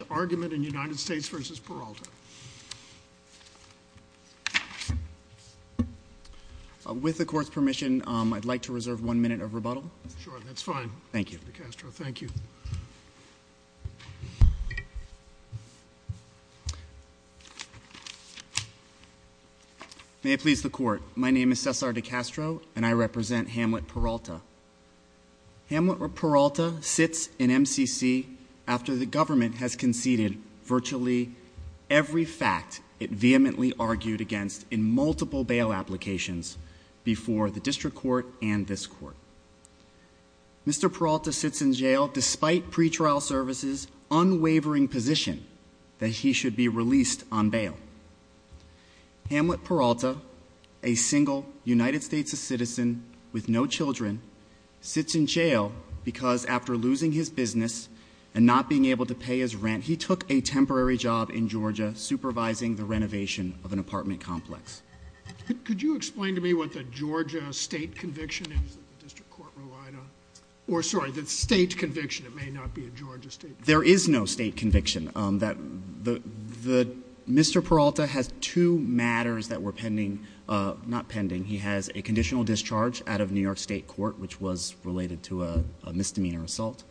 Peralta. With the court's permission, I'd like to reserve one minute of rebuttal. Sure, that's fine. Thank you, DeCastro. Thank you. May it please the court. My name is Cesar DeCastro and I represent Hamlet Peralta. Hamlet Peralta sits in MCC after the government has conceded virtually every fact it vehemently argued against in multiple bail applications before the district court and this court. Mr. Peralta sits in jail despite pretrial services' unwavering position that he should be released on bail. Hamlet Peralta, a single United States citizen with no children, sits in jail because after losing his business and not being able to pay his rent, he took a temporary job in Georgia supervising the renovation of an apartment complex. Could you explain to me what the Georgia state conviction is that the district court relied on? Or sorry, the state conviction. It may not be a Georgia state conviction. There is no state conviction. Mr. Peralta has two matters that were pending, not pending. He has a conditional discharge out of New York state court, which was related to a misdemeanor assault,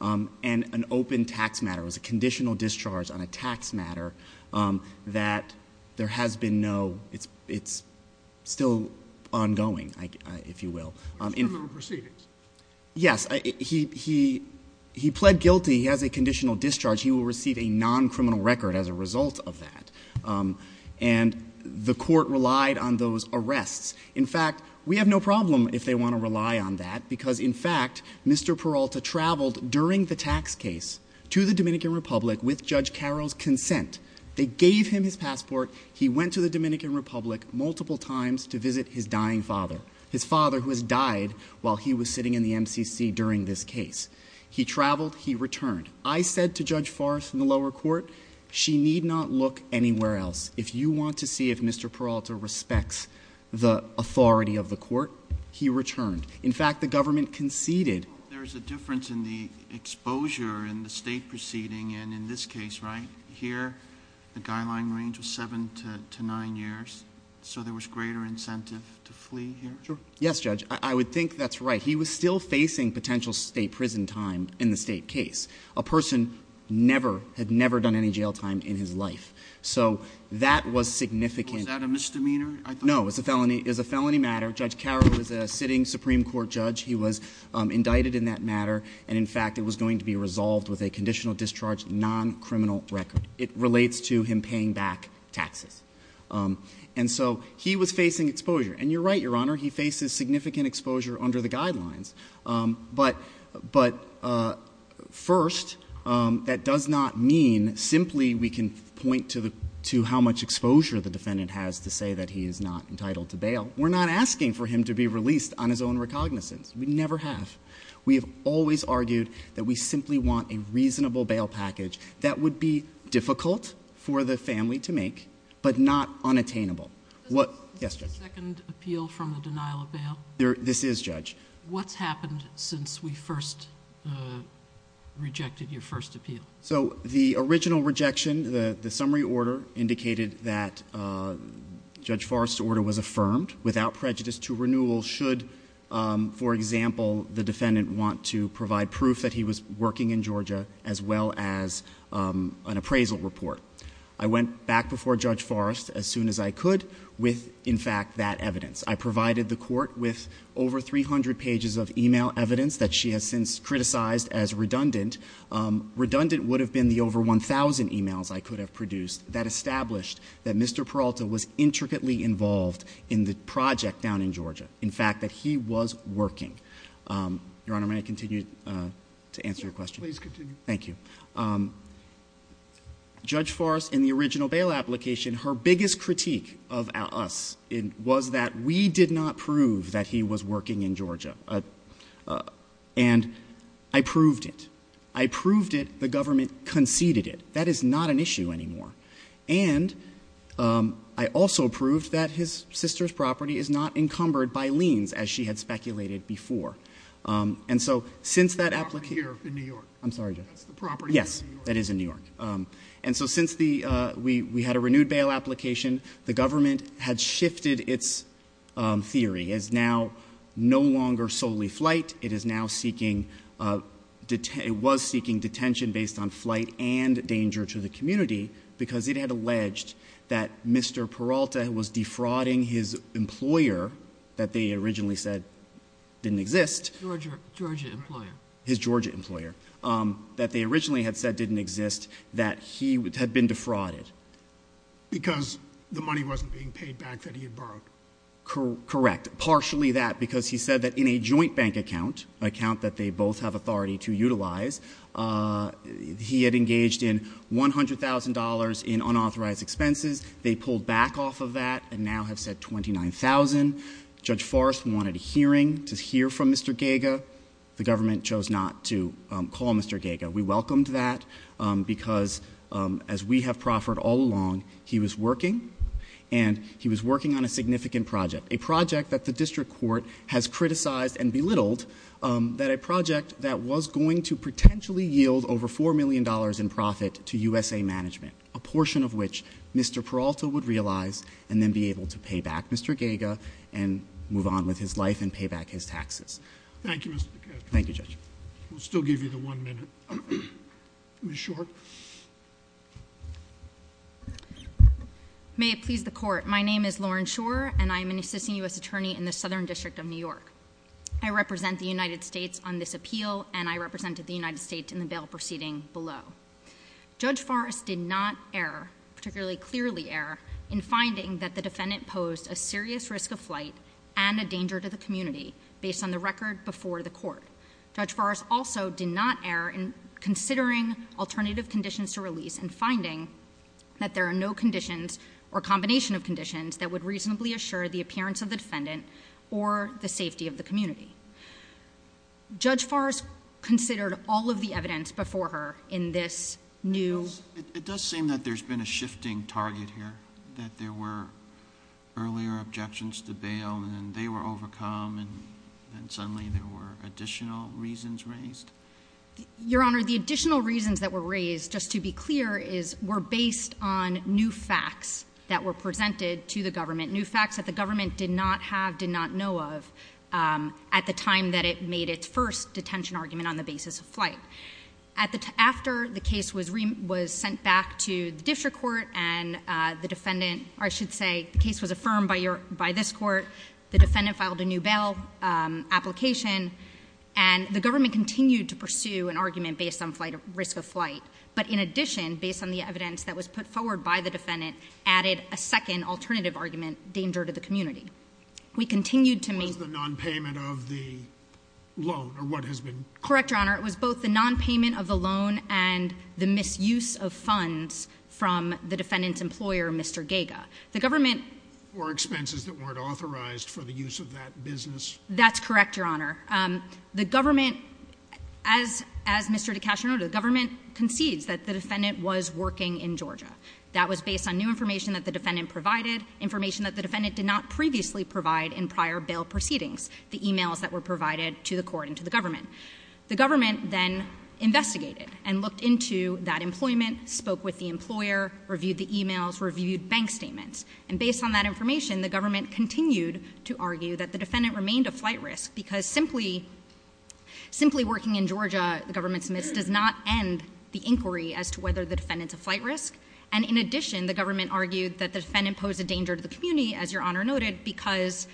and an open tax matter. It was a conditional discharge on a tax matter that there has been no, it's still ongoing, if you will. Criminal proceedings? Yes. He pled guilty. He has a conditional discharge. He will receive a non-criminal record as a result of that. And the court relied on those arrests. In fact, we have no problem if they want to rely on that, because in fact, Mr. Peralta traveled during the tax case to the Dominican Republic with Judge Carroll's consent. They gave him his passport. He went to the Dominican Republic multiple times to visit his dying father, his father who has died while he was sitting in the MCC during this case. He traveled. He returned. I said to Judge Forrest in the lower court, she need not look anywhere else. If you want to see if Mr. Peralta respects the authority of the court, he returned. In fact, the government conceded. There is a difference in the exposure in the state proceeding, and in this case right here, the guideline range was seven to nine years, so there was greater incentive to flee here? Yes, Judge. I would think that's right. He was still facing potential state prison time in the state case. A person had never done any jail time in his life, so that was significant. Was that a misdemeanor? No, it was a felony matter. Judge Carroll was a sitting Supreme Court judge. He was indicted in that matter, and in fact, it was going to be resolved with a conditional discharge non-criminal record. It relates to him paying back taxes. He was facing exposure, and you're right, Your Honor. He faces significant exposure under the guidelines. But first, that does not mean simply we can point to how much exposure the defendant has to say that he is not entitled to bail. We're not asking for him to be released on his own recognizance. We never have. We have always argued that we simply want a reasonable bail package that would be difficult for the family to make, but not unattainable. Is this the second appeal from the denial of bail? This is, Judge. What's happened since we first rejected your first appeal? So the original rejection, the summary order, indicated that Judge Forrest's order was affirmed without prejudice to renewal should, for example, the defendant want to provide proof that he was working in Georgia as well as an appraisal report. I went back before Judge Forrest as soon as I could with, in fact, that evidence. I provided the court with over 300 pages of email evidence that she has since criticized as redundant. Redundant would have been the over 1,000 emails I could have produced that established that Mr. Peralta was intricately involved in the project down in Georgia. In fact, that he was working. Your Honor, may I continue to answer your question? Please continue. Thank you. Judge Forrest, in the original bail application, her biggest critique of us was that we did not prove that he was working in Georgia. And I proved it. I proved it. The government conceded it. That is not an issue anymore. And I also proved that his sister's property is not encumbered by liens, as she had speculated before. And so since that application- The property here in New York. I'm sorry, Judge. That's the property in New York. Yes, that is in New York. And so since we had a renewed bail application, the government had shifted its theory. It is now no longer solely flight. It was seeking detention based on flight and danger to the community because it had alleged that Mr. Peralta was defrauding his employer that they originally said didn't exist- Georgia employer. His Georgia employer that they originally had said didn't exist, that he had been defrauded. Because the money wasn't being paid back that he had borrowed. Correct. Partially that because he said that in a joint bank account, an account that they both have authority to utilize, he had engaged in $100,000 in unauthorized expenses. They pulled back off of that and now have said $29,000. Judge Forrest wanted a hearing to hear from Mr. Gaga. The government chose not to call Mr. Gaga. We welcomed that because as we have proffered all along, he was working and he was working on a significant project. A project that the district court has criticized and belittled that a project that was going to potentially yield over $4 million in profit to USA management. A portion of which Mr. Peralta would realize and then be able to pay back Mr. Gaga and move on with his life and pay back his taxes. Thank you, Mr. DeCastro. Thank you, Judge. We'll still give you the one minute. Ms. Schor. May it please the court. My name is Lauren Schor and I am an assisting U.S. attorney in the Southern District of New York. I represent the United States on this appeal and I represented the United States in the bail proceeding below. Judge Forrest did not err, particularly clearly err, in finding that the defendant posed a serious risk of flight and a danger to the community based on the record before the court. Judge Forrest also did not err in considering alternative conditions to release and finding that there are no conditions or combination of conditions that would reasonably assure the appearance of the defendant or the safety of the community. Judge Forrest considered all of the evidence before her in this new. It does seem that there's been a shifting target here, that there were earlier objections to bail and they were overcome and suddenly there were additional reasons raised. Your Honor, the additional reasons that were raised, just to be clear, were based on new facts that were presented to the government. New facts that the government did not have, did not know of at the time that it made its first detention argument on the basis of flight. After the case was sent back to the district court and the defendant, or I should say the case was affirmed by this court, the defendant filed a new bail application and the government continued to pursue an argument based on risk of flight. But in addition, based on the evidence that was put forward by the defendant, added a second alternative argument, danger to the community. We continued to make... It was the non-payment of the loan, or what has been... Correct, Your Honor. It was both the non-payment of the loan and the misuse of funds from the defendant's employer, Mr. Gaga. The government... Or expenses that weren't authorized for the use of that business. That's correct, Your Honor. The government, as Mr. DeCastro noted, the government concedes that the defendant was working in Georgia. That was based on new information that the defendant provided, information that the defendant did not previously provide in prior bail proceedings, the emails that were provided to the court and to the government. The government then investigated and looked into that employment, spoke with the employer, reviewed the emails, reviewed bank statements. And based on that information, the government continued to argue that the defendant remained a flight risk because simply working in Georgia, the government admits, does not end the inquiry as to whether the defendant's a flight risk. And in addition, the government argued that the defendant posed a danger to the community, as Your Honor noted, because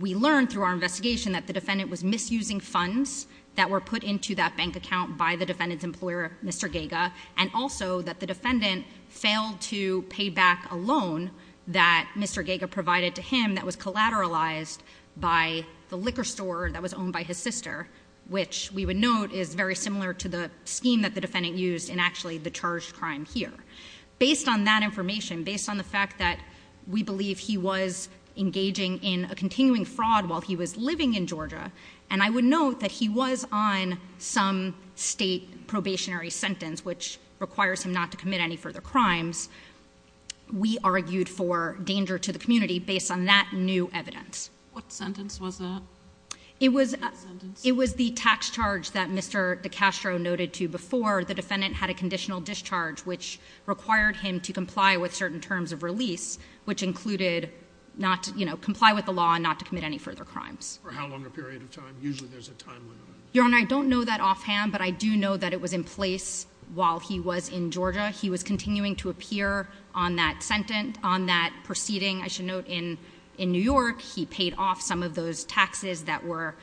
we learned through our investigation that the defendant was misusing funds that were put into that bank account by the defendant's employer, Mr. Gaga. And also that the defendant failed to pay back a loan that Mr. Gaga provided to him that was collateralized by the liquor store that was owned by his sister, which we would note is very similar to the scheme that the defendant used in actually the charged crime here. Based on that information, based on the fact that we believe he was engaging in a continuing fraud while he was living in Georgia, and I would note that he was on some state probationary sentence, which requires him not to commit any further crimes, we argued for danger to the community based on that new evidence. What sentence was that? It was the tax charge that Mr. DeCastro noted to before the defendant had a conditional discharge, which required him to comply with certain terms of release, which included comply with the law and not to commit any further crimes. For how long a period of time? Usually there's a time limit on that. Your Honor, I don't know that offhand, but I do know that it was in place while he was in Georgia. He was continuing to appear on that sentence, on that proceeding, I should note, in New York. He paid off some of those taxes that were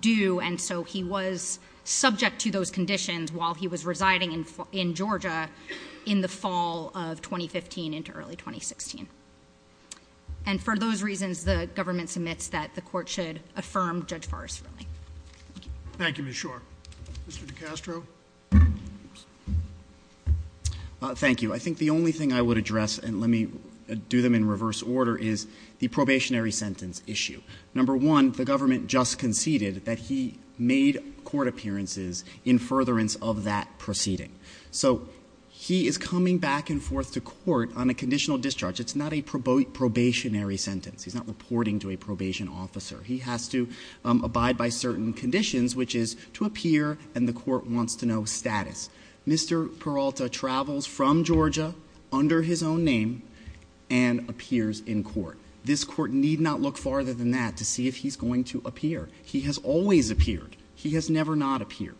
due, and so he was subject to those conditions while he was residing in Georgia in the fall of 2015 into early 2016. And for those reasons, the government submits that the court should affirm Judge Forrest's ruling. Thank you, Ms. Schor. Mr. DeCastro? Thank you. I think the only thing I would address, and let me do them in reverse order, is the probationary sentence issue. Number one, the government just conceded that he made court appearances in furtherance of that proceeding. So he is coming back and forth to court on a conditional discharge. It's not a probationary sentence. He's not reporting to a probation officer. He has to abide by certain conditions, which is to appear, and the court wants to know status. Mr. Peralta travels from Georgia under his own name and appears in court. This court need not look farther than that to see if he's going to appear. He has always appeared. He has never not appeared.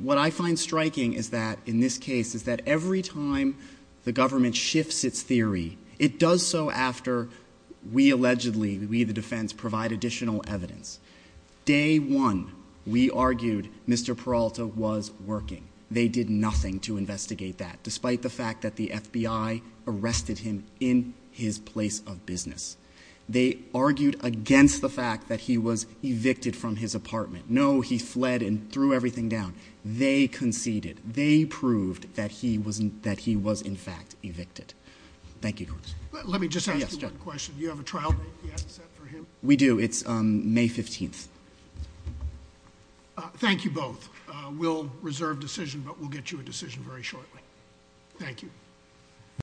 What I find striking is that, in this case, is that every time the government shifts its theory, it does so after we allegedly, we the defense, provide additional evidence. Day one, we argued Mr. Peralta was working. They did nothing to investigate that, despite the fact that the FBI arrested him in his place of business. They argued against the fact that he was evicted from his apartment. No, he fled and threw everything down. They conceded. They proved that he was, in fact, evicted. Thank you. Let me just ask you one question. Do you have a trial date yet set for him? We do. It's May 15th. Thank you both. We'll reserve decision, but we'll get you a decision very shortly. Thank you.